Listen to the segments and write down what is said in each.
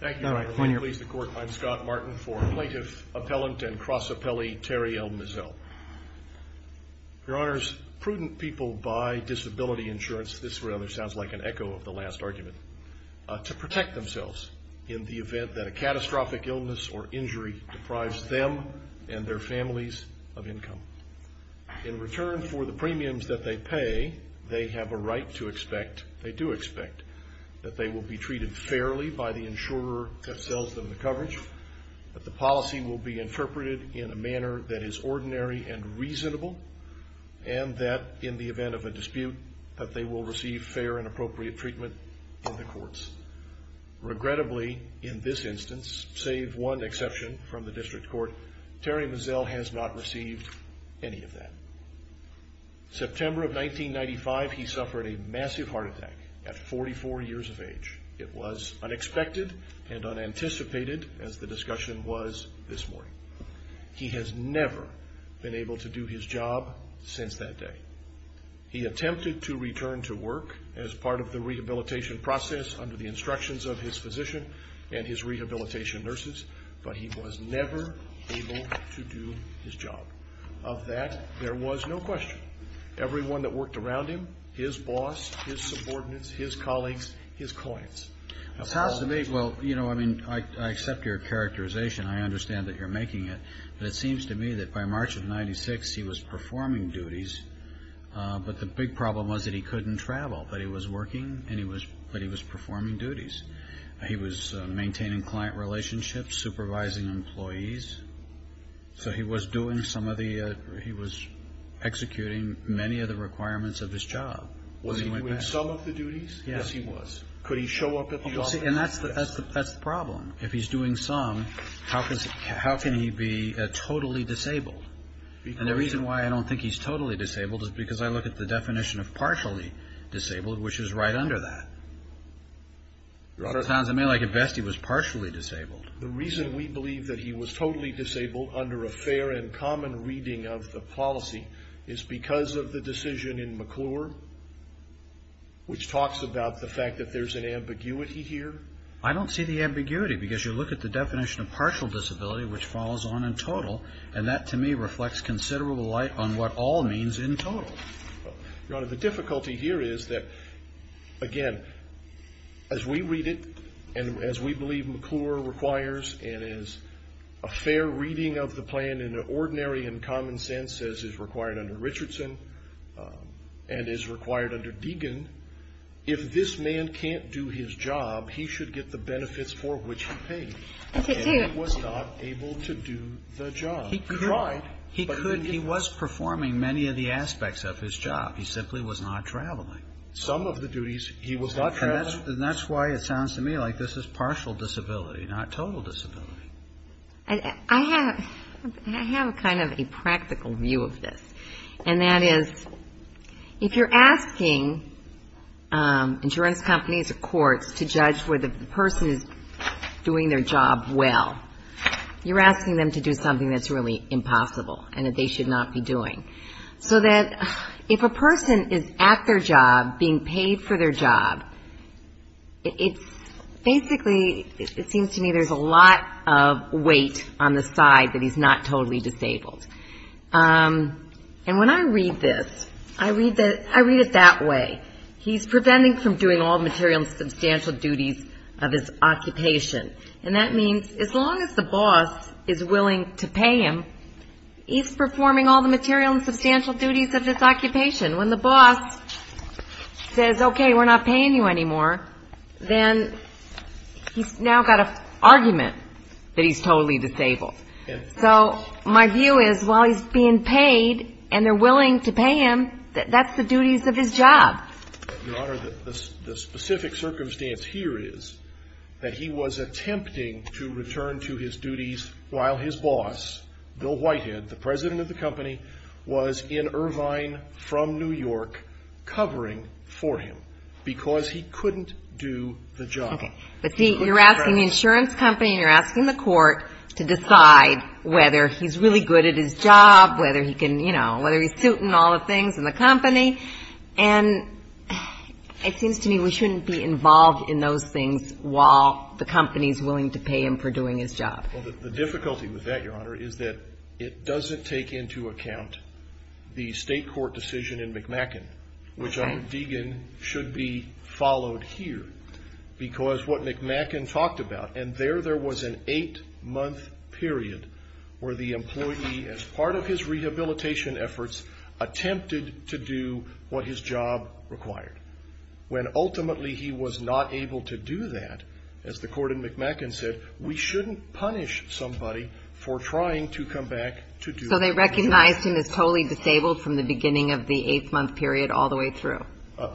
Thank you, Your Honor. I'm Scott Martin for Plaintiff, Appellant, and Cross-Appellee Terry L. Mizzell. Your Honors, prudent people buy disability insurance, this really sounds like an echo of the last argument, to protect themselves in the event that a catastrophic illness or injury deprives them and their families of income. In return for the premiums that they pay, they have a right to expect, they do expect, that they will be treated fairly by the insurer that sells them the coverage, that the policy will be interpreted in a manner that is ordinary and reasonable, and that, in the event of a dispute, that they will receive fair and appropriate treatment in the courts. Regrettably, in this instance, save one exception from the district court, Terry Mizzell has not received any of that. September of 1995, he suffered a massive heart attack at 44 years of age. It was unexpected and unanticipated, as the discussion was this morning. He has never been able to do his job since that day. He attempted to return to work as part of the rehabilitation process under the instructions of his physician and his rehabilitation nurses, but he was never able to do his job. Of that, there was no question. Everyone that worked around him, his boss, his subordinates, his colleagues, his clients. Well, you know, I mean, I accept your characterization. I understand that you're making it, but it seems to me that by March of 1996, he was performing duties, but the big problem was that he couldn't travel, but he was working, but he was performing duties. He was maintaining client relationships, supervising employees. So he was doing some of the he was executing many of the requirements of his job. Was he doing some of the duties? Yes, he was. Could he show up at the office? And that's the problem. If he's doing some, how can he be totally disabled? And the reason why I don't think he's totally disabled is because I look at the definition of partially disabled, which is right under that. Your Honor. It sounds to me like at best he was partially disabled. The reason we believe that he was totally disabled under a fair and common reading of the policy is because of the decision in McClure, which talks about the fact that there's an ambiguity here. I don't see the ambiguity because you look at the definition of partial disability, which follows on in total, and that to me reflects considerable light on what all means in total. Your Honor, the difficulty here is that, again, as we read it and as we believe McClure requires and as a fair reading of the plan in an ordinary and common sense says is required under Richardson and is required under Deegan, if this man can't do his job, he should get the benefits for which he paid. And he was not able to do the job. He could. He was performing many of the aspects of his job. He simply was not traveling. Some of the duties he was not traveling. And that's why it sounds to me like this is partial disability, not total disability. I have kind of a practical view of this, and that is if you're asking insurance companies or courts to judge whether the person is doing their job well, you're asking them to do something that's really impossible and that they should not be doing. So that if a person is at their job being paid for their job, it's basically it seems to me there's a lot of weight on the side that he's not totally disabled. And when I read this, I read it that way. He's preventing from doing all the material and substantial duties of his occupation. And that means as long as the boss is willing to pay him, he's performing all the material and substantial duties of his occupation. When the boss says, okay, we're not paying you anymore, then he's now got an argument that he's totally disabled. So my view is while he's being paid and they're willing to pay him, that's the duties of his job. Your Honor, the specific circumstance here is that he was attempting to return to his duties while his boss, Bill Whitehead, the president of the company, was in Irvine from New York covering for him because he couldn't do the job. Okay. But see, you're asking the insurance company and you're asking the court to decide whether he's really good at his job, whether he can, you know, whether he's suiting all the things in the company. And it seems to me we shouldn't be involved in those things while the company is willing to pay him for doing his job. Well, the difficulty with that, Your Honor, is that it doesn't take into account the state court decision in McMackin, which I'm thinking should be followed here because what McMackin talked about, and there there was an eight-month period where the employee, as part of his rehabilitation efforts, attempted to do what his job required, when ultimately he was not able to do that. As the court in McMackin said, we shouldn't punish somebody for trying to come back to do their job. So they recognized him as totally disabled from the beginning of the eight-month period all the way through?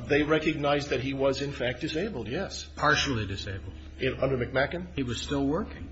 They recognized that he was, in fact, disabled, yes. Partially disabled. Under McMackin? He was still working.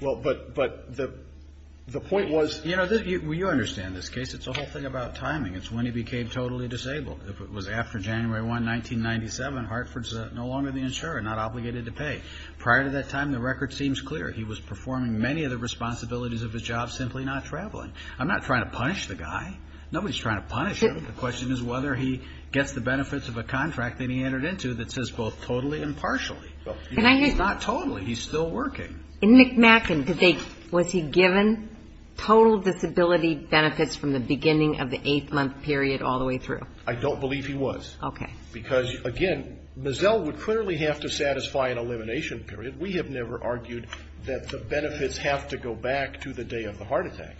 Well, but the point was. You know, you understand this case. It's the whole thing about timing. It's when he became totally disabled. If it was after January 1, 1997, Hartford's no longer the insurer, not obligated to pay. Prior to that time, the record seems clear. He was performing many of the responsibilities of his job, simply not traveling. I'm not trying to punish the guy. Nobody's trying to punish him. The question is whether he gets the benefits of a contract that he entered into that says both totally and partially. He's not totally. He's still working. In McMackin, was he given total disability benefits from the beginning of the eight-month period all the way through? I don't believe he was. Okay. Because, again, Mizzell would clearly have to satisfy an elimination period. We have never argued that the benefits have to go back to the day of the heart attack.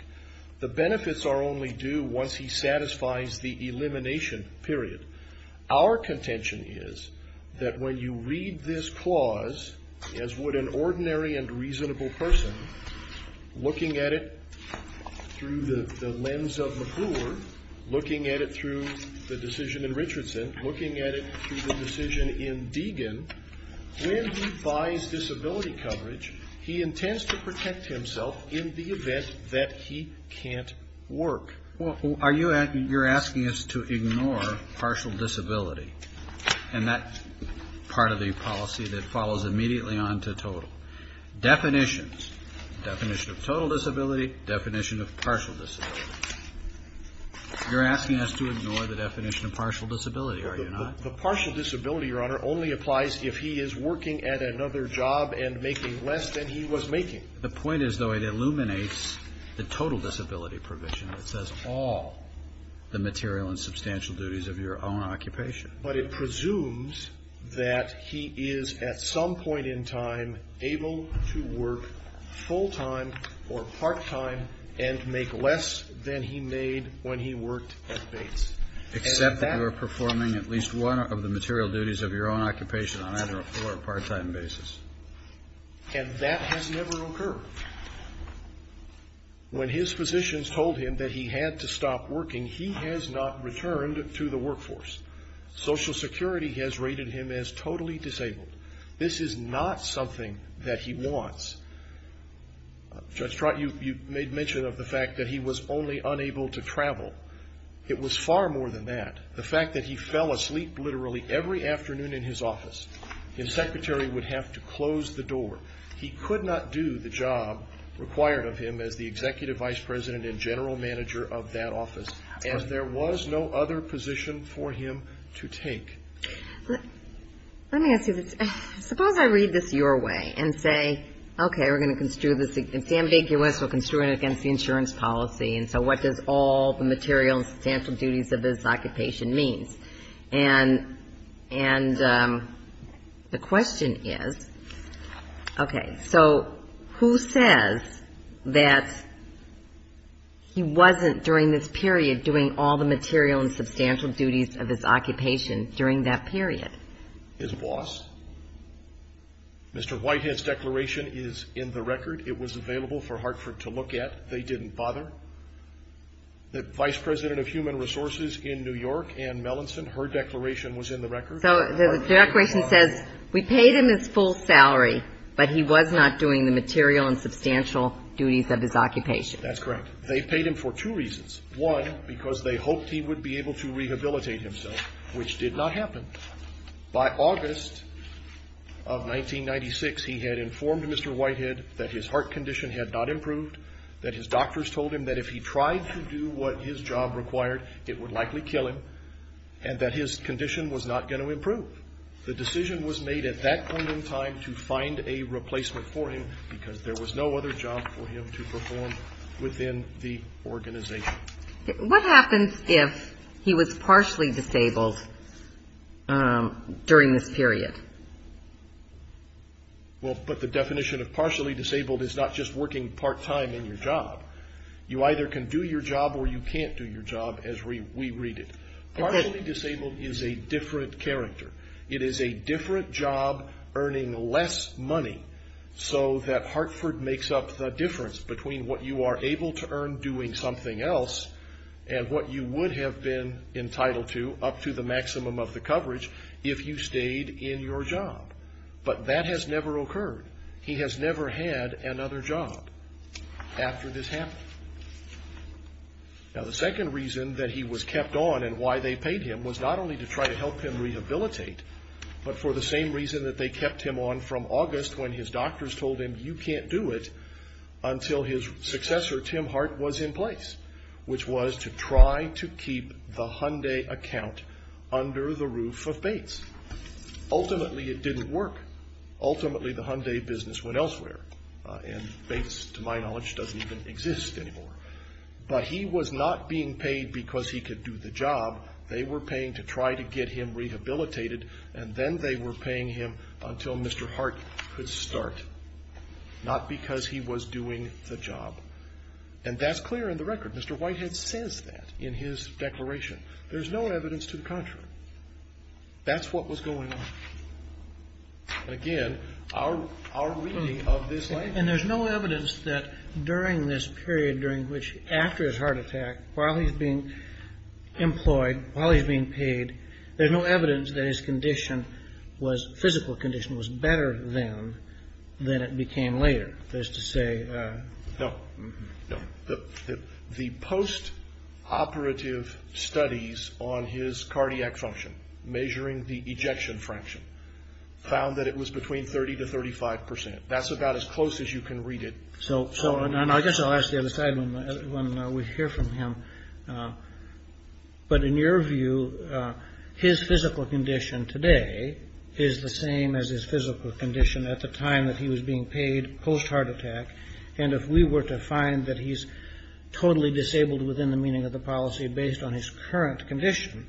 The benefits are only due once he satisfies the elimination period. Our contention is that when you read this clause, as would an ordinary and reasonable person, looking at it through the lens of McClure, looking at it through the decision in Richardson, looking at it through the decision in Deegan, when he buys disability coverage, he intends to protect himself in the event that he can't work. Well, you're asking us to ignore partial disability, and that's part of the policy that follows immediately on to total. Definitions. Definition of total disability, definition of partial disability. You're asking us to ignore the definition of partial disability, are you not? The partial disability, Your Honor, only applies if he is working at another job and making less than he was making. The point is, though, it illuminates the total disability provision that says all the material and substantial duties of your own occupation. But it presumes that he is, at some point in time, able to work full-time or part-time and make less than he made when he worked at base. Except that you are performing at least one of the material duties of your own occupation on either a full or part-time basis. And that has never occurred. When his physicians told him that he had to stop working, he has not returned to the workforce. Social Security has rated him as totally disabled. This is not something that he wants. Judge Trott, you made mention of the fact that he was only unable to travel. It was far more than that. The fact that he fell asleep literally every afternoon in his office. His secretary would have to close the door. He could not do the job required of him as the executive vice president and general manager of that office. And there was no other position for him to take. Let me ask you this. Suppose I read this your way and say, okay, we're going to construe this. It's ambiguous. We're construing it against the insurance policy. And so what does all the material and substantial duties of his occupation mean? And the question is, okay, so who says that he wasn't during this period doing all the material and substantial duties of his occupation during that period? His boss. Mr. Whitehead's declaration is in the record. It was available for Hartford to look at. They didn't bother. The vice president of human resources in New York, Ann Melanson, her declaration was in the record. So the declaration says we paid him his full salary, but he was not doing the material and substantial duties of his occupation. That's correct. They paid him for two reasons. One, because they hoped he would be able to rehabilitate himself, which did not happen. By August of 1996, he had informed Mr. Whitehead that his heart condition had not improved, that his doctors told him that if he tried to do what his job required, it would likely kill him, and that his condition was not going to improve. The decision was made at that point in time to find a replacement for him because there was no other job for him to perform within the organization. What happens if he was partially disabled during this period? Well, but the definition of partially disabled is not just working part-time in your job. You either can do your job or you can't do your job, as we read it. Partially disabled is a different character. It is a different job earning less money so that Hartford makes up the difference between what you are able to earn doing something else and what you would have been entitled to up to the maximum of the coverage if you stayed in your job. But that has never occurred. He has never had another job after this happened. Now, the second reason that he was kept on and why they paid him was not only to try to help him rehabilitate, but for the same reason that they kept him on from August when his doctors told him, you can't do it, until his successor, Tim Hart, was in place, which was to try to keep the Hyundai account under the roof of Bates. Ultimately, it didn't work. Ultimately, the Hyundai business went elsewhere, and Bates, to my knowledge, doesn't even exist anymore. But he was not being paid because he could do the job. They were paying to try to get him rehabilitated, and then they were paying him until Mr. Hart could start, not because he was doing the job. And that's clear in the record. Mr. Whitehead says that in his declaration. There's no evidence to the contrary. That's what was going on. Again, our reading of this language. And there's no evidence that during this period during which, after his heart attack, while he's being employed, while he's being paid, there's no evidence that his condition was, physical condition, was better then than it became later. No. The post-operative studies on his cardiac function, measuring the ejection fraction, found that it was between 30 to 35 percent. That's about as close as you can read it. I guess I'll ask the other side when we hear from him. But in your view, his physical condition today is the same as his physical condition at the time that he was being paid, post-heart attack. And if we were to find that he's totally disabled within the meaning of the policy, based on his current condition,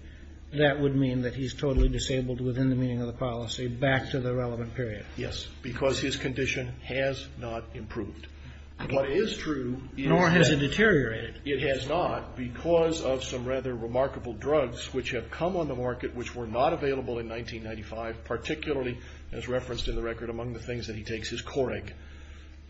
that would mean that he's totally disabled within the meaning of the policy, back to the relevant period. Yes, because his condition has not improved. What is true is that it has not, because of some rather remarkable drugs, which have come on the market, which were not available in 1995, particularly, as referenced in the record, among the things that he takes is Coreg.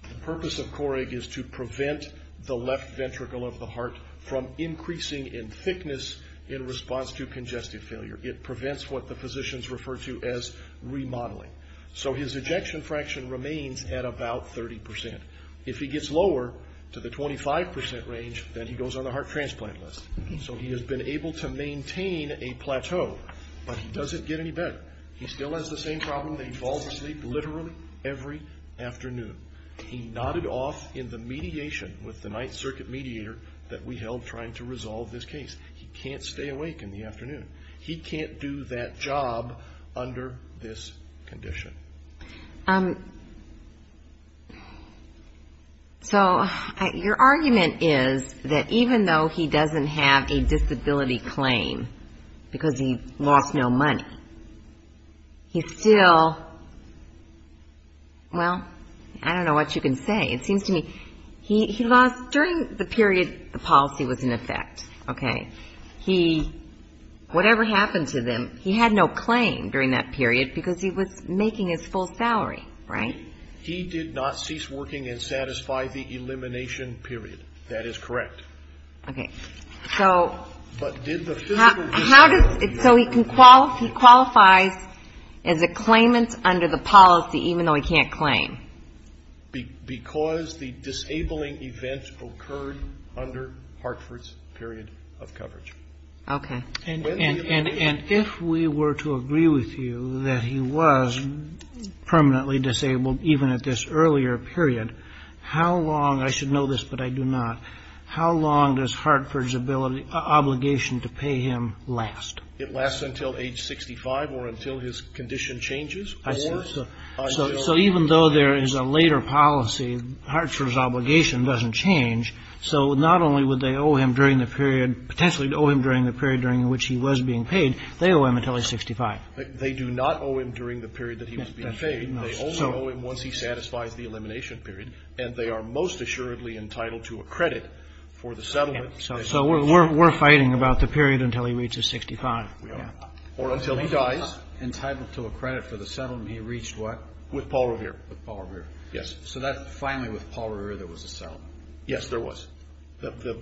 The purpose of Coreg is to prevent the left ventricle of the heart from increasing in thickness in response to congestive failure. It prevents what the physicians refer to as remodeling. So his ejection fraction remains at about 30 percent. If he gets lower, to the 25 percent range, then he goes on the heart transplant list. So he has been able to maintain a plateau, but he doesn't get any better. He still has the same problem that he falls asleep literally every afternoon. He nodded off in the mediation with the Ninth Circuit mediator that we held trying to resolve this case. He can't stay awake in the afternoon. He can't do that job under this condition. So your argument is that even though he doesn't have a disability claim, because he lost no money, he still, well, I don't know what you can say. It seems to me he lost, during the period the policy was in effect, okay, he, whatever happened to him, he had no claim during that period because he was making his full salary, right? He did not cease working and satisfy the elimination period. That is correct. Okay. So how does, so he qualifies as a claimant under the policy, even though he can't claim? Because the disabling event occurred under Hartford's period of coverage. Okay. And if we were to agree with you that he was permanently disabled, even at this earlier period, how long, I should know this but I do not, how long does Hartford's obligation to pay him last? It lasts until age 65 or until his condition changes. I see. So even though there is a later policy, Hartford's obligation doesn't change. So not only would they owe him during the period, potentially owe him during the period during which he was being paid, they owe him until age 65. They do not owe him during the period that he was being paid. They only owe him once he satisfies the elimination period. And they are most assuredly entitled to a credit for the settlement. So we're fighting about the period until he reaches 65. We are. Or until he dies. Entitled to a credit for the settlement. He reached what? With Paul Revere. With Paul Revere. Yes. So that's finally with Paul Revere there was a settlement. Yes, there was.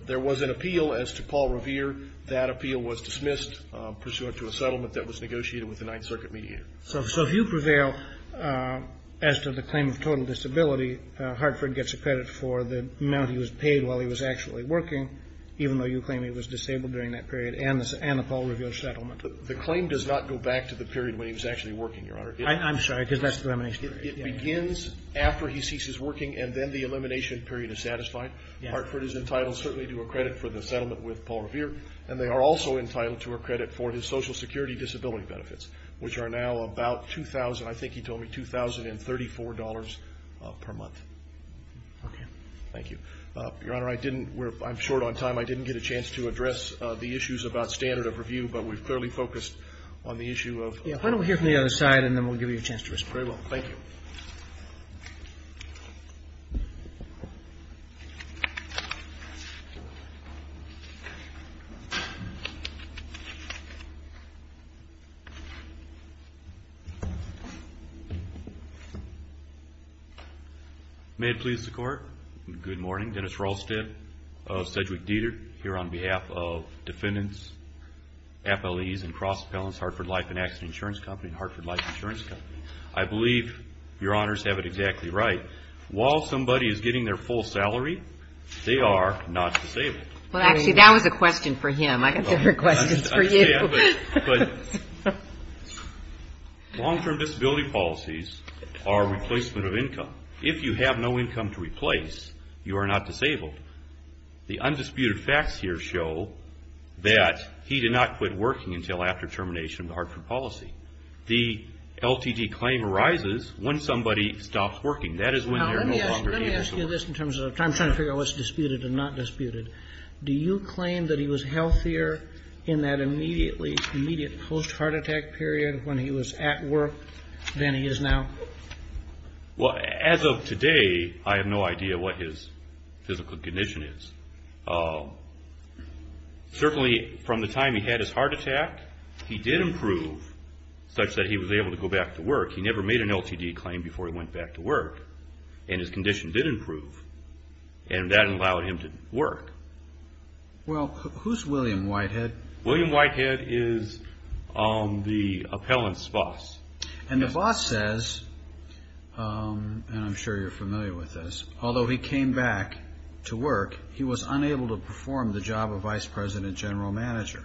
There was an appeal as to Paul Revere. That appeal was dismissed pursuant to a settlement that was negotiated with the Ninth Circuit mediator. So if you prevail as to the claim of total disability, Hartford gets a credit for the amount he was paid while he was actually working, even though you claim he was disabled during that period and the Paul Revere settlement. The claim does not go back to the period when he was actually working, Your Honor. I'm sorry, because that's the elimination period. It begins after he ceases working and then the elimination period is satisfied. Hartford is entitled certainly to a credit for the settlement with Paul Revere. And they are also entitled to a credit for his Social Security disability benefits, which are now about $2,000. I think he told me $2,034 per month. Okay. Thank you. Your Honor, I'm short on time. I didn't get a chance to address the issues about standard of review, but we've clearly focused on the issue of. Why don't we hear from the other side and then we'll give you a chance to respond. Very well. Thank you. May it please the Court. Good morning. Dennis Rolstad, Sedgwick Dieter here on behalf of Defendants, FLEs and Cross Appellants, Hartford Life and Accident Insurance Company and Hartford Life Insurance Company. I believe Your Honors have it exactly right. While somebody is getting their full salary, they are not disabled. Well, actually, that was a question for him. I got different questions for you. Long-term disability policies are replacement of income. If you have no income to replace, you are not disabled. The undisputed facts here show that he did not quit working until after termination of the Hartford policy. The LTD claim arises when somebody stops working. That is when they are no longer able to work. Let me ask you this in terms of time. I'm trying to figure out what's disputed and not disputed. Do you claim that he was healthier in that immediate post-heart attack period when he was at work than he is now? Well, as of today, I have no idea what his physical condition is. Certainly, from the time he had his heart attack, he did improve such that he was able to go back to work. He never made an LTD claim before he went back to work, and his condition did improve. And that allowed him to work. Well, who's William Whitehead? William Whitehead is the appellant's boss. And the boss says, and I'm sure you're familiar with this, although he came back to work, he was unable to perform the job of vice president general manager.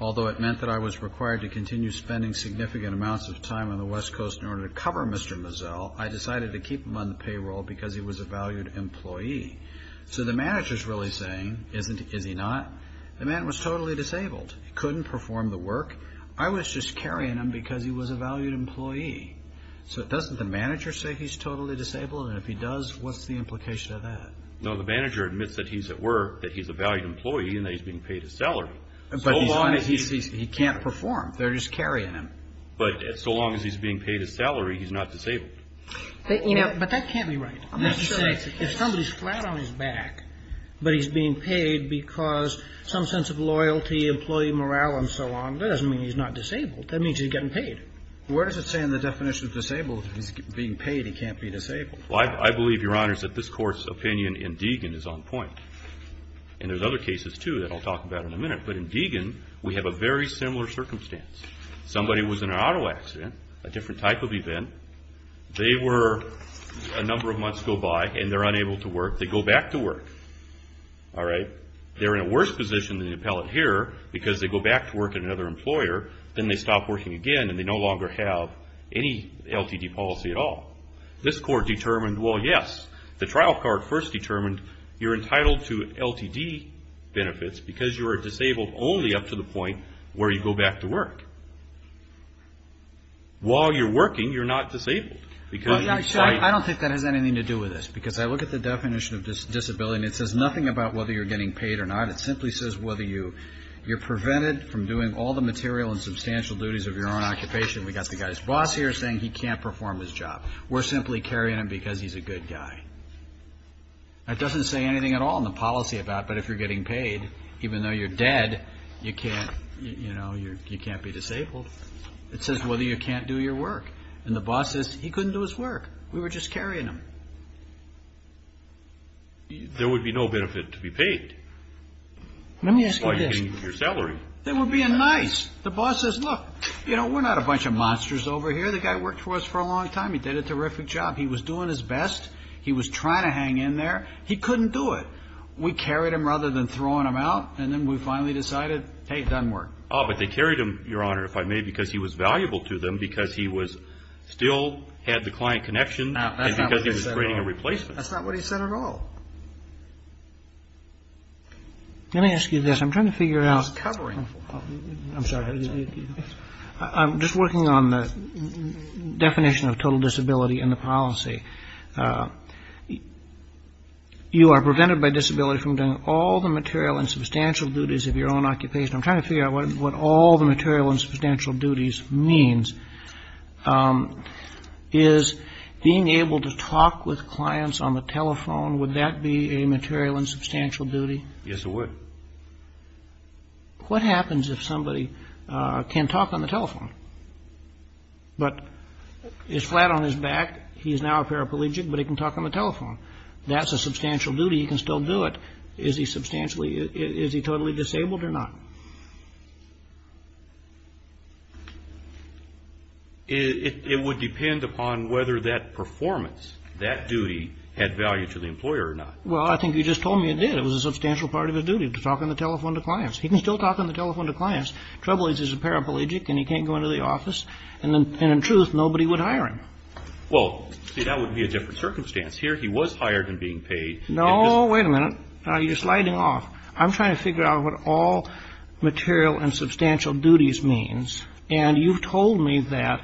Although it meant that I was required to continue spending significant amounts of time on the West Coast in order to cover Mr. Mazzel, I decided to keep him on the payroll because he was a valued employee. So the manager's really saying, is he not? The man was totally disabled. He couldn't perform the work. I was just carrying him because he was a valued employee. So doesn't the manager say he's totally disabled? And if he does, what's the implication of that? No, the manager admits that he's at work, that he's a valued employee, and that he's being paid his salary. But he can't perform. They're just carrying him. But so long as he's being paid his salary, he's not disabled. But that can't be right. If somebody's flat on his back, but he's being paid because some sense of loyalty, employee morale, and so on, that doesn't mean he's not disabled. That means he's getting paid. Where does it say in the definition of disabled, if he's being paid, he can't be disabled? Well, I believe, Your Honors, that this Court's opinion in Deegan is on point. And there's other cases, too, that I'll talk about in a minute. But in Deegan, we have a very similar circumstance. Somebody was in an auto accident, a different type of event. They were a number of months go by, and they're unable to work. They go back to work. They're in a worse position than the appellate here because they go back to work at another employer. Then they stop working again, and they no longer have any LTD policy at all. This Court determined, well, yes. The trial court first determined you're entitled to LTD benefits because you are disabled only up to the point where you go back to work. While you're working, you're not disabled. I don't think that has anything to do with this because I look at the definition of disability, and it says nothing about whether you're getting paid or not. It simply says whether you're prevented from doing all the material and substantial duties of your own occupation. We've got the guy's boss here saying he can't perform his job. We're simply carrying him because he's a good guy. That doesn't say anything at all in the policy about, but if you're getting paid, even though you're dead, you can't be disabled. It says whether you can't do your work, and the boss says he couldn't do his work. We were just carrying him. There would be no benefit to be paid. Let me ask you this. They were being nice. The boss says, look, you know, we're not a bunch of monsters over here. The guy worked for us for a long time. He did a terrific job. He was doing his best. He was trying to hang in there. He couldn't do it. We carried him rather than throwing him out, and then we finally decided, hey, it doesn't work. Oh, but they carried him, Your Honor, if I may, because he was valuable to them, because he was still had the client connection and because he was creating a replacement. That's not what he said at all. Let me ask you this. I'm trying to figure out. He was covering. I'm sorry. I'm just working on the definition of total disability in the policy. You are prevented by disability from doing all the material and substantial duties of your own occupation. I'm trying to figure out what all the material and substantial duties means. Is being able to talk with clients on the telephone, would that be a material and substantial duty? Yes, it would. What happens if somebody can talk on the telephone but is flat on his back? He is now a paraplegic, but he can talk on the telephone. That's a substantial duty. He can still do it. Is he substantially, is he totally disabled or not? It would depend upon whether that performance, that duty, had value to the employer or not. Well, I think you just told me it did. It was a substantial part of his duty to talk on the telephone to clients. He can still talk on the telephone to clients. The trouble is he's a paraplegic and he can't go into the office. And in truth, nobody would hire him. Well, see, that would be a different circumstance here. He was hired and being paid. No, wait a minute. You're sliding off. I'm trying to figure out what all material and substantial duties means. And you've told me that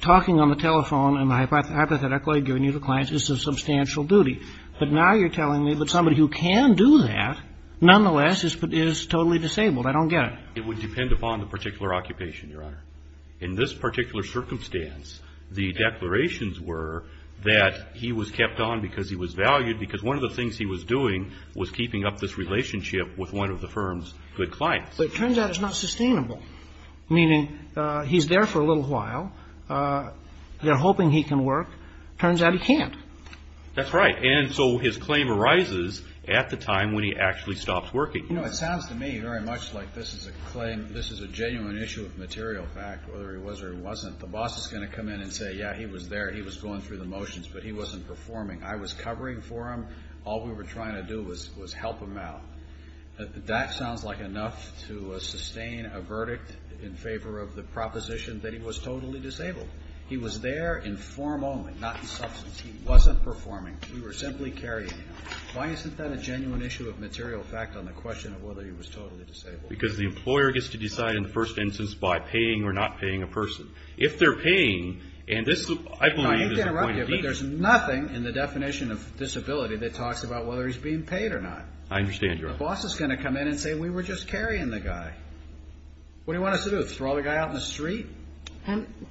talking on the telephone and hypothetically giving you to clients is a substantial duty. But now you're telling me that somebody who can do that, nonetheless, is totally disabled. I don't get it. It would depend upon the particular occupation, Your Honor. In this particular circumstance, the declarations were that he was kept on because he was valued, because one of the things he was doing was keeping up this relationship with one of the firm's good clients. But it turns out it's not sustainable, meaning he's there for a little while. They're hoping he can work. Turns out he can't. That's right. And so his claim arises at the time when he actually stops working. You know, it sounds to me very much like this is a genuine issue of material fact, whether he was or he wasn't. The boss is going to come in and say, yeah, he was there. He was going through the motions, but he wasn't performing. I was covering for him. All we were trying to do was help him out. That sounds like enough to sustain a verdict in favor of the proposition that he was totally disabled. He was there in form only, not in substance. He wasn't performing. We were simply carrying him. Why isn't that a genuine issue of material fact on the question of whether he was totally disabled? Because the employer gets to decide in the first instance by paying or not paying a person. If they're paying, and this, I believe, is a point of view. I hate to interrupt you, but there's nothing in the definition of disability that talks about whether he's being paid or not. I understand your point. The boss is going to come in and say we were just carrying the guy. What do you want us to do, throw the guy out in the street?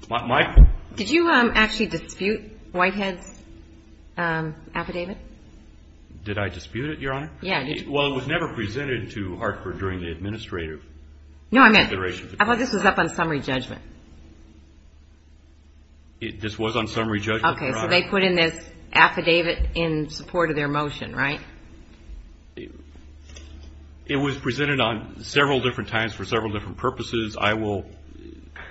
Mike? Did you actually dispute Whitehead's affidavit? Did I dispute it, Your Honor? Yeah. Well, it was never presented to Hartford during the administrative consideration. No, I meant, I thought this was up on summary judgment. This was on summary judgment, Your Honor. Okay, so they put in this affidavit in support of their motion, right? It was presented on several different times for several different purposes. I will,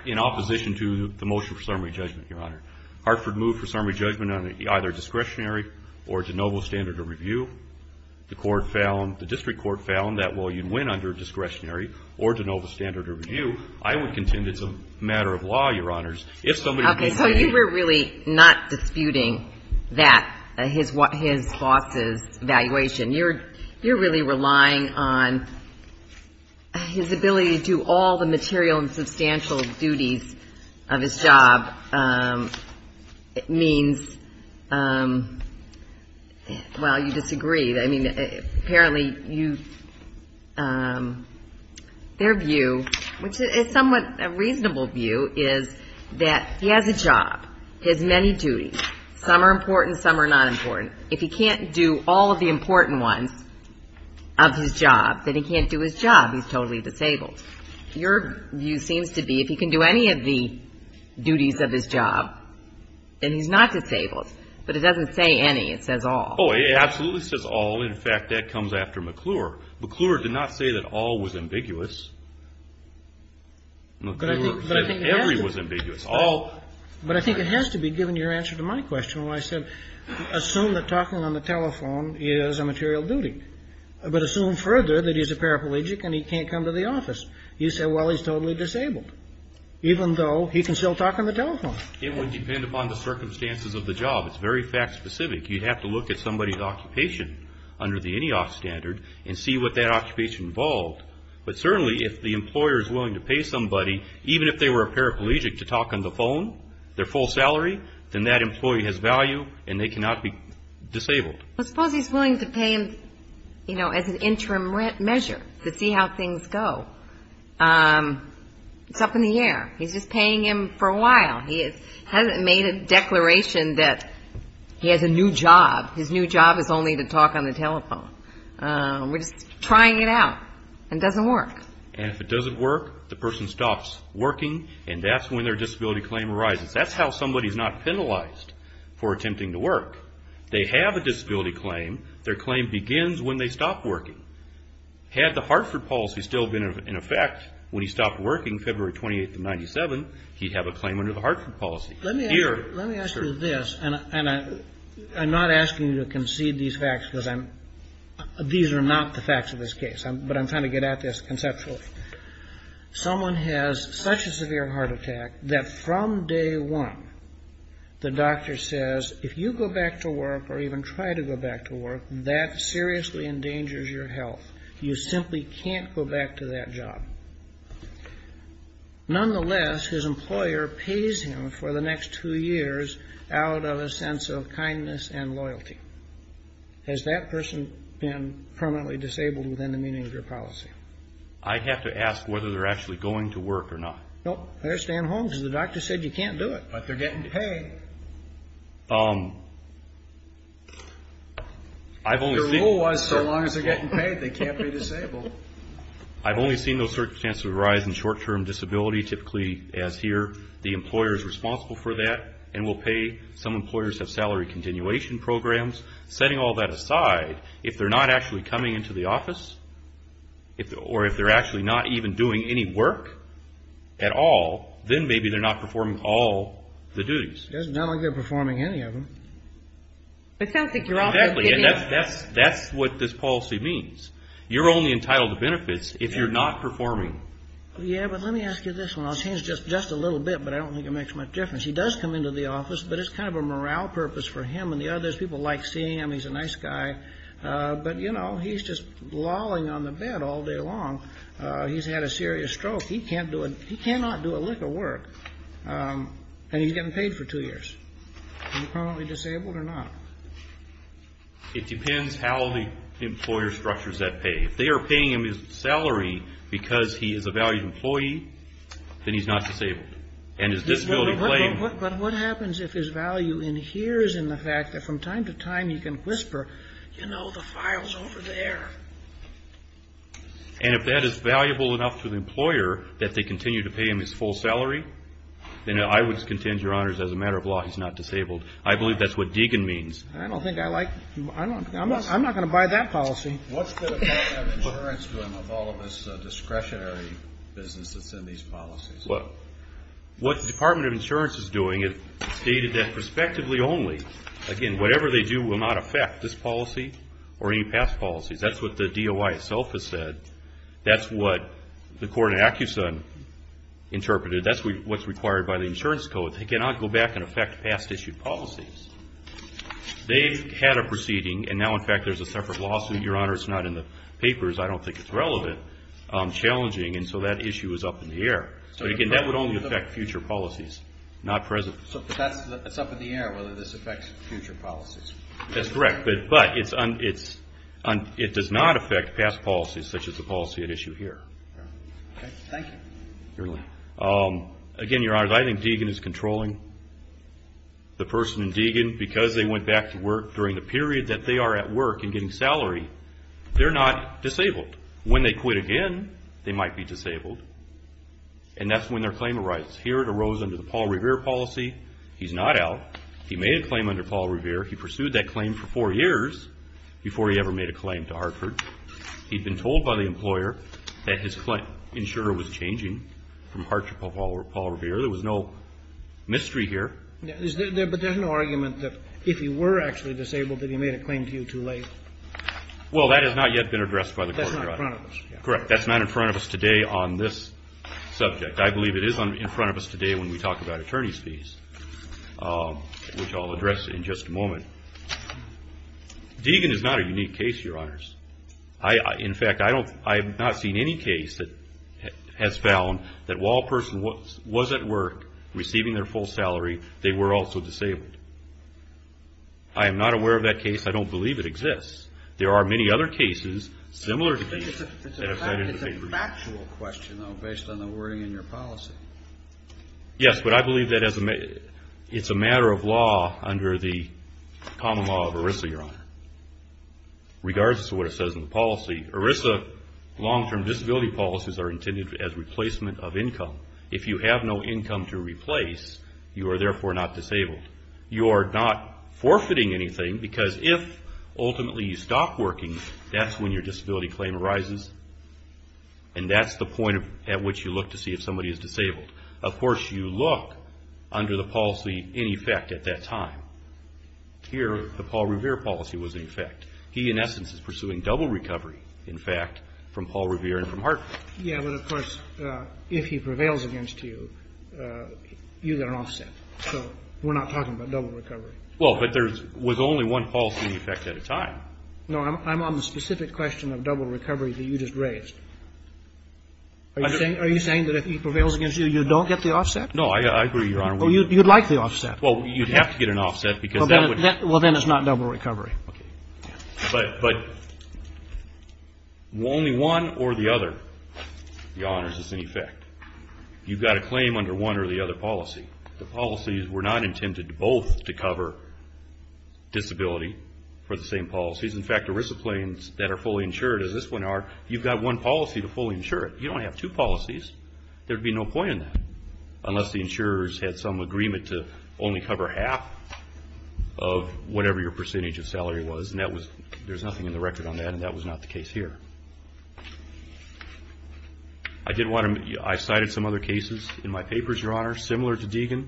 in opposition to the motion for summary judgment, Your Honor, Hartford moved for summary judgment on either discretionary or de novo standard of review. The court found, the district court found that while you'd win under discretionary or de novo standard of review, I would contend it's a matter of law, Your Honors. Okay, so you were really not disputing that, his boss's evaluation. You're really relying on his ability to do all the material and substantial duties of his job means, well, you disagree. I mean, apparently their view, which is somewhat a reasonable view, is that he has a job. He has many duties. Some are important, some are not important. If he can't do all of the important ones of his job, then he can't do his job. He's totally disabled. Your view seems to be if he can do any of the duties of his job, then he's not disabled. But it doesn't say any. It says all. Oh, it absolutely says all. In fact, that comes after McClure. McClure did not say that all was ambiguous. McClure said every was ambiguous. But I think it has to be, given your answer to my question, when I said assume that talking on the telephone is a material duty. But assume further that he's a paraplegic and he can't come to the office. You say, well, he's totally disabled, even though he can still talk on the telephone. It would depend upon the circumstances of the job. It's very fact specific. You'd have to look at somebody's occupation under the INEOC standard and see what that occupation involved. But certainly if the employer is willing to pay somebody, even if they were a paraplegic to talk on the phone, their full salary, then that employee has value and they cannot be disabled. Well, suppose he's willing to pay him, you know, as an interim measure to see how things go. It's up in the air. He's just paying him for a while. He hasn't made a declaration that he has a new job. His new job is only to talk on the telephone. We're just trying it out and it doesn't work. And if it doesn't work, the person stops working, and that's when their disability claim arises. That's how somebody is not penalized for attempting to work. They have a disability claim. Their claim begins when they stop working. Had the Hartford policy still been in effect when he stopped working February 28th of 1997, he'd have a claim under the Hartford policy. Let me ask you this, and I'm not asking you to concede these facts because these are not the facts of this case, but I'm trying to get at this conceptually. Someone has such a severe heart attack that from day one the doctor says, if you go back to work or even try to go back to work, that seriously endangers your health. You simply can't go back to that job. Nonetheless, his employer pays him for the next two years out of a sense of kindness and loyalty. Has that person been permanently disabled within the meaning of your policy? I'd have to ask whether they're actually going to work or not. Nope, they're staying home because the doctor said you can't do it. But they're getting paid. I've only seen... Your rule was so long as they're getting paid they can't be disabled. I've only seen those circumstances arise in short-term disability typically as here. The employer is responsible for that and will pay. Some employers have salary continuation programs. Setting all that aside, if they're not actually coming into the office or if they're actually not even doing any work at all, then maybe they're not performing all the duties. It doesn't sound like they're performing any of them. It sounds like you're also giving... Exactly, and that's what this policy means. You're only entitled to benefits if you're not performing. Yeah, but let me ask you this one. I'll change just a little bit, but I don't think it makes much difference. He does come into the office, but it's kind of a morale purpose for him and the others. People like seeing him. He's a nice guy. But, you know, he's just lolling on the bed all day long. He's had a serious stroke. He cannot do a lick of work, and he's getting paid for two years. Is he permanently disabled or not? It depends how the employer structures that pay. If they are paying him his salary because he is a valued employee, then he's not disabled. And his disability claim... But what happens if his value adheres in the fact that from time to time you can whisper, you know, the file's over there? And if that is valuable enough to the employer that they continue to pay him his full salary, then I would contend, Your Honors, as a matter of law, he's not disabled. I believe that's what Deegan means. I don't think I like you. I'm not going to buy that policy. What's the Department of Insurance doing with all of this discretionary business that's in these policies? Well, what the Department of Insurance is doing is stating that prospectively only, again, whatever they do will not affect this policy or any past policies. That's what the DOI itself has said. That's what the court in Accuson interpreted. That's what's required by the insurance code. It cannot go back and affect past issued policies. They've had a proceeding, and now, in fact, there's a separate lawsuit. Your Honors, it's not in the papers. I don't think it's relevant, challenging, and so that issue is up in the air. So, again, that would only affect future policies, not present. So it's up in the air whether this affects future policies. That's correct. But it does not affect past policies such as the policy at issue here. Okay. Thank you. You're welcome. Again, Your Honors, I think Deegan is controlling. The person in Deegan, because they went back to work during the period that they are at work and getting salary, they're not disabled. When they quit again, they might be disabled, and that's when their claim arises. Here it arose under the Paul Revere policy. He's not out. He made a claim under Paul Revere. He'd been told by the employer that his insurer was changing from Harcher to Paul Revere. There was no mystery here. But there's no argument that if he were actually disabled, that he made a claim to you too late. Well, that has not yet been addressed by the court. That's not in front of us. Correct. That's not in front of us today on this subject. I believe it is in front of us today when we talk about attorney's fees, which I'll address in just a moment. Deegan is not a unique case, Your Honors. In fact, I have not seen any case that has found that while a person was at work receiving their full salary, they were also disabled. I am not aware of that case. I don't believe it exists. There are many other cases similar to Deegan that have cited the same reason. It's a factual question, though, based on the wording in your policy. Yes, but I believe that it's a matter of law under the common law of ERISA, Your Honor. Regardless of what it says in the policy, ERISA long-term disability policies are intended as replacement of income. If you have no income to replace, you are therefore not disabled. You are not forfeiting anything because if ultimately you stop working, that's when your disability claim arises, and that's the point at which you look to see if somebody is disabled. Of course, you look under the policy in effect at that time. Here, the Paul Revere policy was in effect. He, in essence, is pursuing double recovery, in fact, from Paul Revere and from Hartford. Yes, but of course, if he prevails against you, you get an offset. So we're not talking about double recovery. Well, but there was only one policy in effect at a time. No, I'm on the specific question of double recovery that you just raised. Are you saying that if he prevails against you, you don't get the offset? Well, you'd like the offset. Well, you'd have to get an offset because that would... Well, then it's not double recovery. Okay. But only one or the other of the honors is in effect. You've got a claim under one or the other policy. The policies were not intended both to cover disability for the same policies. In fact, ERISA claims that are fully insured, as this one are, you've got one policy to fully insure it. You don't have two policies. There would be no point in that unless the insurers had some agreement to only cover half of whatever your percentage of salary was, and that was... There's nothing in the record on that, and that was not the case here. I did want to... I cited some other cases in my papers, Your Honor, similar to Deegan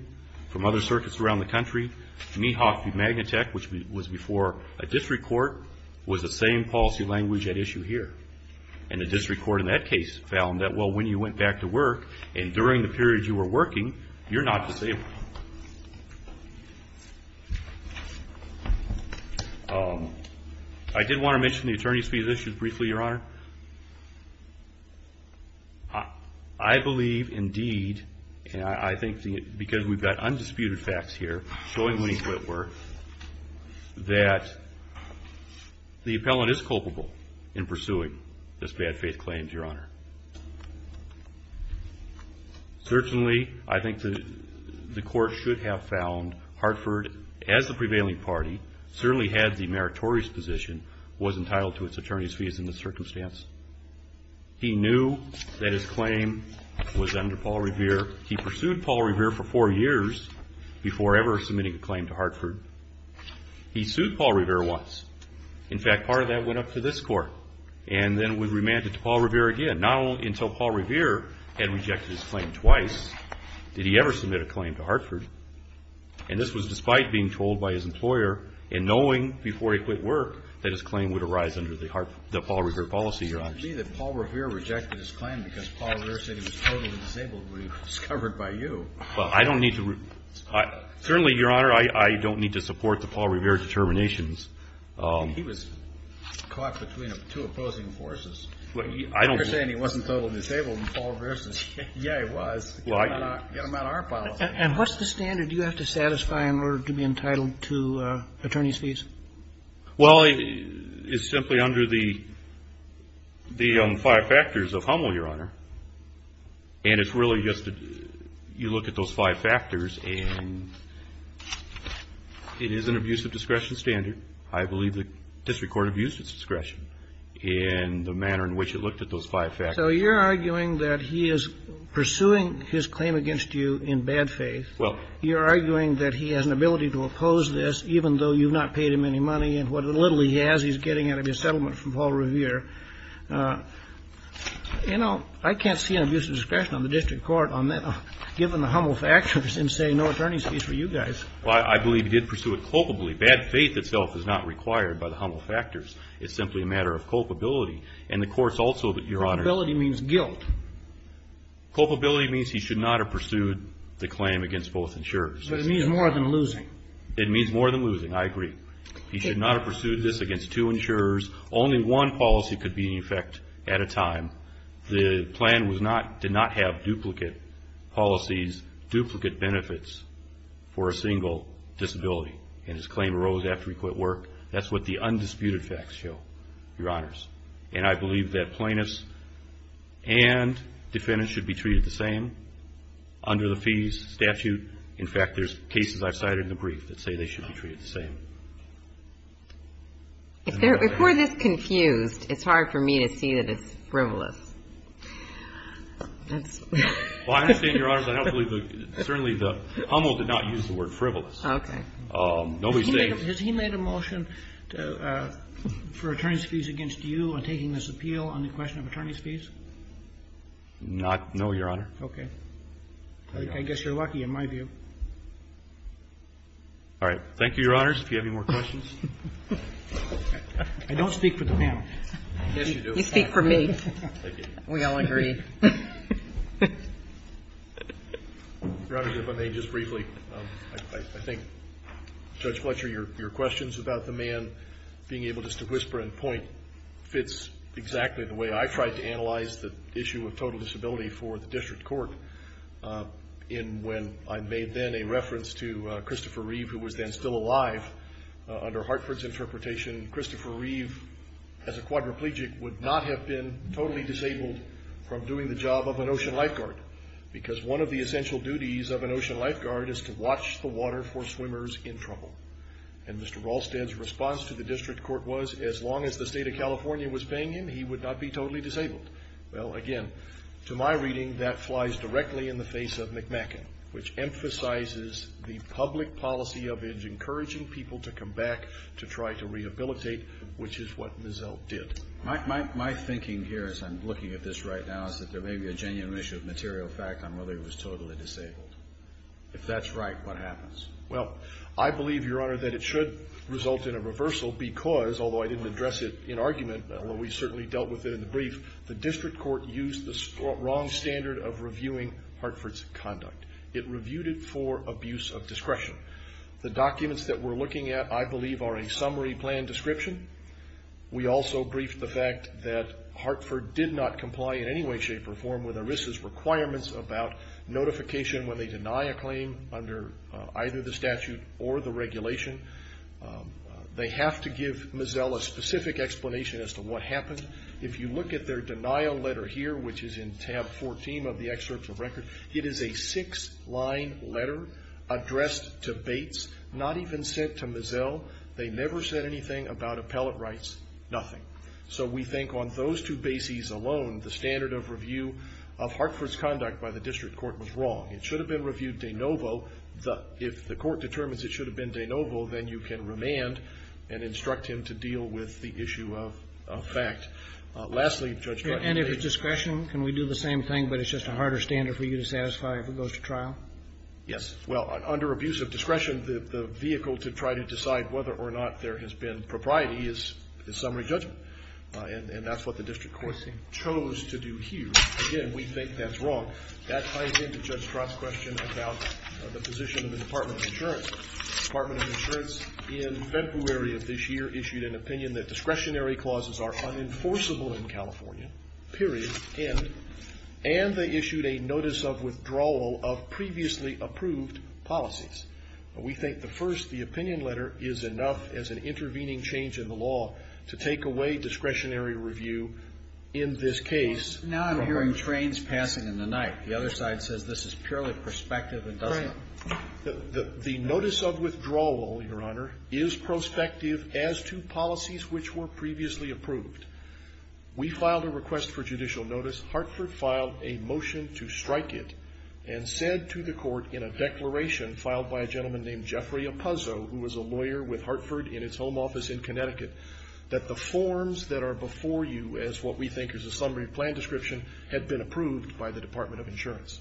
from other circuits around the country. Mehoff v. Magnatech, which was before a district court, was the same policy language at issue here, and the district court in that case found that, well, when you went back to work and during the period you were working, you're not disabled. I did want to mention the attorney's fees issue briefly, Your Honor. I believe, indeed, and I think because we've got undisputed facts here showing Lee Whitworth that the appellant is culpable in pursuing this bad faith claim, Your Honor. Certainly, I think the court should have found Hartford, as the prevailing party, certainly had the meritorious position, was entitled to its attorney's fees in this circumstance. He knew that his claim was under Paul Revere. He pursued Paul Revere for four years before ever submitting a claim to Hartford. He sued Paul Revere once. In fact, part of that went up to this court, and then was remanded to Paul Revere again, not only until Paul Revere had rejected his claim twice did he ever submit a claim to Hartford, and this was despite being trolled by his employer and knowing before he quit work that his claim would arise under the Paul Revere policy, Your Honor. It seems to me that Paul Revere rejected his claim because Paul Revere said he was totally disabled when he was discovered by you. Well, I don't need to. Certainly, Your Honor, I don't need to support the Paul Revere determinations. He was caught between two opposing forces. You're saying he wasn't totally disabled and Paul Revere says, yeah, he was. Get him out of our policy. And what's the standard you have to satisfy in order to be entitled to attorney's fees? Well, it's simply under the five factors of Hummel, Your Honor. And it's really just you look at those five factors and it is an abuse of discretion standard. I believe the district court abused its discretion in the manner in which it looked at those five factors. So you're arguing that he is pursuing his claim against you in bad faith. Well. You're arguing that he has an ability to oppose this even though you've not paid him any money and what little he has he's getting out of his settlement from Paul Revere. You know, I can't see an abuse of discretion on the district court on that, given the Hummel factors and say no attorney's fees for you guys. Well, I believe he did pursue it culpably. Bad faith itself is not required by the Hummel factors. It's simply a matter of culpability. And the courts also, Your Honor. Culpability means guilt. Culpability means he should not have pursued the claim against both insurers. But it means more than losing. It means more than losing. I agree. He should not have pursued this against two insurers. Only one policy could be in effect at a time. The plan did not have duplicate policies, duplicate benefits for a single disability. And his claim arose after he quit work. That's what the undisputed facts show, Your Honors. And I believe that plaintiffs and defendants should be treated the same under the fees statute. In fact, there's cases I've cited in the brief that say they should be treated the same. If we're this confused, it's hard for me to see that it's frivolous. Well, I understand, Your Honors. I don't believe that certainly the Hummel did not use the word frivolous. Okay. No mistake. Has he made a motion for attorney's fees against you in taking this appeal on the question of attorney's fees? No, Your Honor. Okay. I guess you're lucky in my view. All right. Thank you, Your Honors. If you have any more questions. I don't speak for the panel. Yes, you do. You speak for me. Thank you. We all agree. Your Honor, if I may just briefly. I think, Judge Fletcher, your questions about the man being able just to whisper and point fits exactly the way I tried to analyze the issue of total disability for the district court. And when I made then a reference to Christopher Reeve, who was then still alive, under Hartford's interpretation, Christopher Reeve, as a quadriplegic, would not have been totally disabled from doing the job of an ocean lifeguard. Because one of the essential duties of an ocean lifeguard is to watch the water for swimmers in trouble. And Mr. Rahlsted's response to the district court was, as long as the state of California was paying him, he would not be totally disabled. Well, again, to my reading, that flies directly in the face of McMacken, which emphasizes the public policy of encouraging people to come back to try to rehabilitate, which is what Mizell did. My thinking here, as I'm looking at this right now, is that there may be a genuine issue of material fact on whether he was totally disabled. If that's right, what happens? Well, I believe, Your Honor, that it should result in a reversal because, although I didn't address it in argument, although we certainly dealt with it in the brief, the district court used the wrong standard of reviewing Hartford's conduct. It reviewed it for abuse of discretion. The documents that we're looking at, I believe, are a summary plan description. We also briefed the fact that Hartford did not comply in any way, shape, or form with ERISA's requirements about notification when they deny a claim under either the statute or the regulation. They have to give Mizell a specific explanation as to what happened. If you look at their denial letter here, which is in tab 14 of the excerpts of record, it is a six-line letter addressed to Bates, not even sent to Mizell. They never said anything about appellate rights, nothing. So we think on those two bases alone, the standard of review of Hartford's conduct by the district court was wrong. It should have been reviewed de novo. If the court determines it should have been de novo, then you can remand and instruct him to deal with the issue of fact. Lastly, Judge Martin. And if it's discretion, can we do the same thing, but it's just a harder standard for you to satisfy if it goes to trial? Yes. Well, under abuse of discretion, the vehicle to try to decide whether or not there has been propriety is summary judgment. And that's what the district court chose to do here. Again, we think that's wrong. That ties into Judge Trott's question about the position of the Department of Insurance. The Department of Insurance in February of this year issued an opinion that discretionary clauses are unenforceable in California, period, end. And they issued a notice of withdrawal of previously approved policies. We think the first, the opinion letter, is enough as an intervening change in the law to take away discretionary review in this case. Now I'm hearing trains passing in the night. The other side says this is purely prospective and doesn't. The notice of withdrawal, Your Honor, is prospective as to policies which were previously approved. We filed a request for judicial notice. Hartford filed a motion to strike it and said to the court in a declaration filed by a gentleman named Jeffrey Appuzzo, who was a lawyer with Hartford in its home office in Connecticut, that the forms that are before you as what we think is a summary plan description had been approved by the Department of Insurance.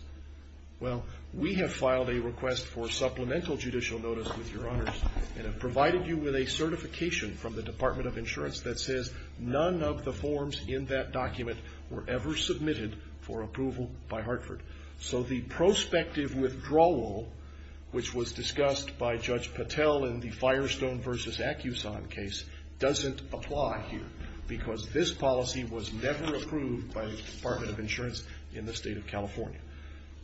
Well, we have filed a request for supplemental judicial notice with Your Honors and have provided you with a certification from the Department of Insurance that says none of the forms in that document were ever submitted for approval by Hartford. So the prospective withdrawal, which was discussed by Judge Patel in the Firestone v. Accuson case, doesn't apply here because this policy was never approved by the Department of Insurance in the state of California.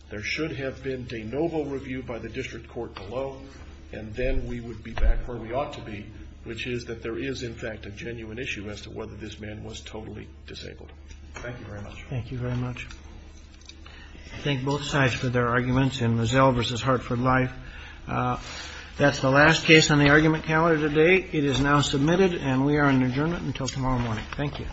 There should have been de novo review by the district court below, and then we would be back where we ought to be, which is that there is, in fact, a genuine issue as to whether this man was totally disabled. Thank you very much. Thank you very much. I thank both sides for their arguments in Rozelle v. Hartford Life. That's the last case on the argument calendar today. It is now submitted, and we are in adjournment until tomorrow morning. Thank you.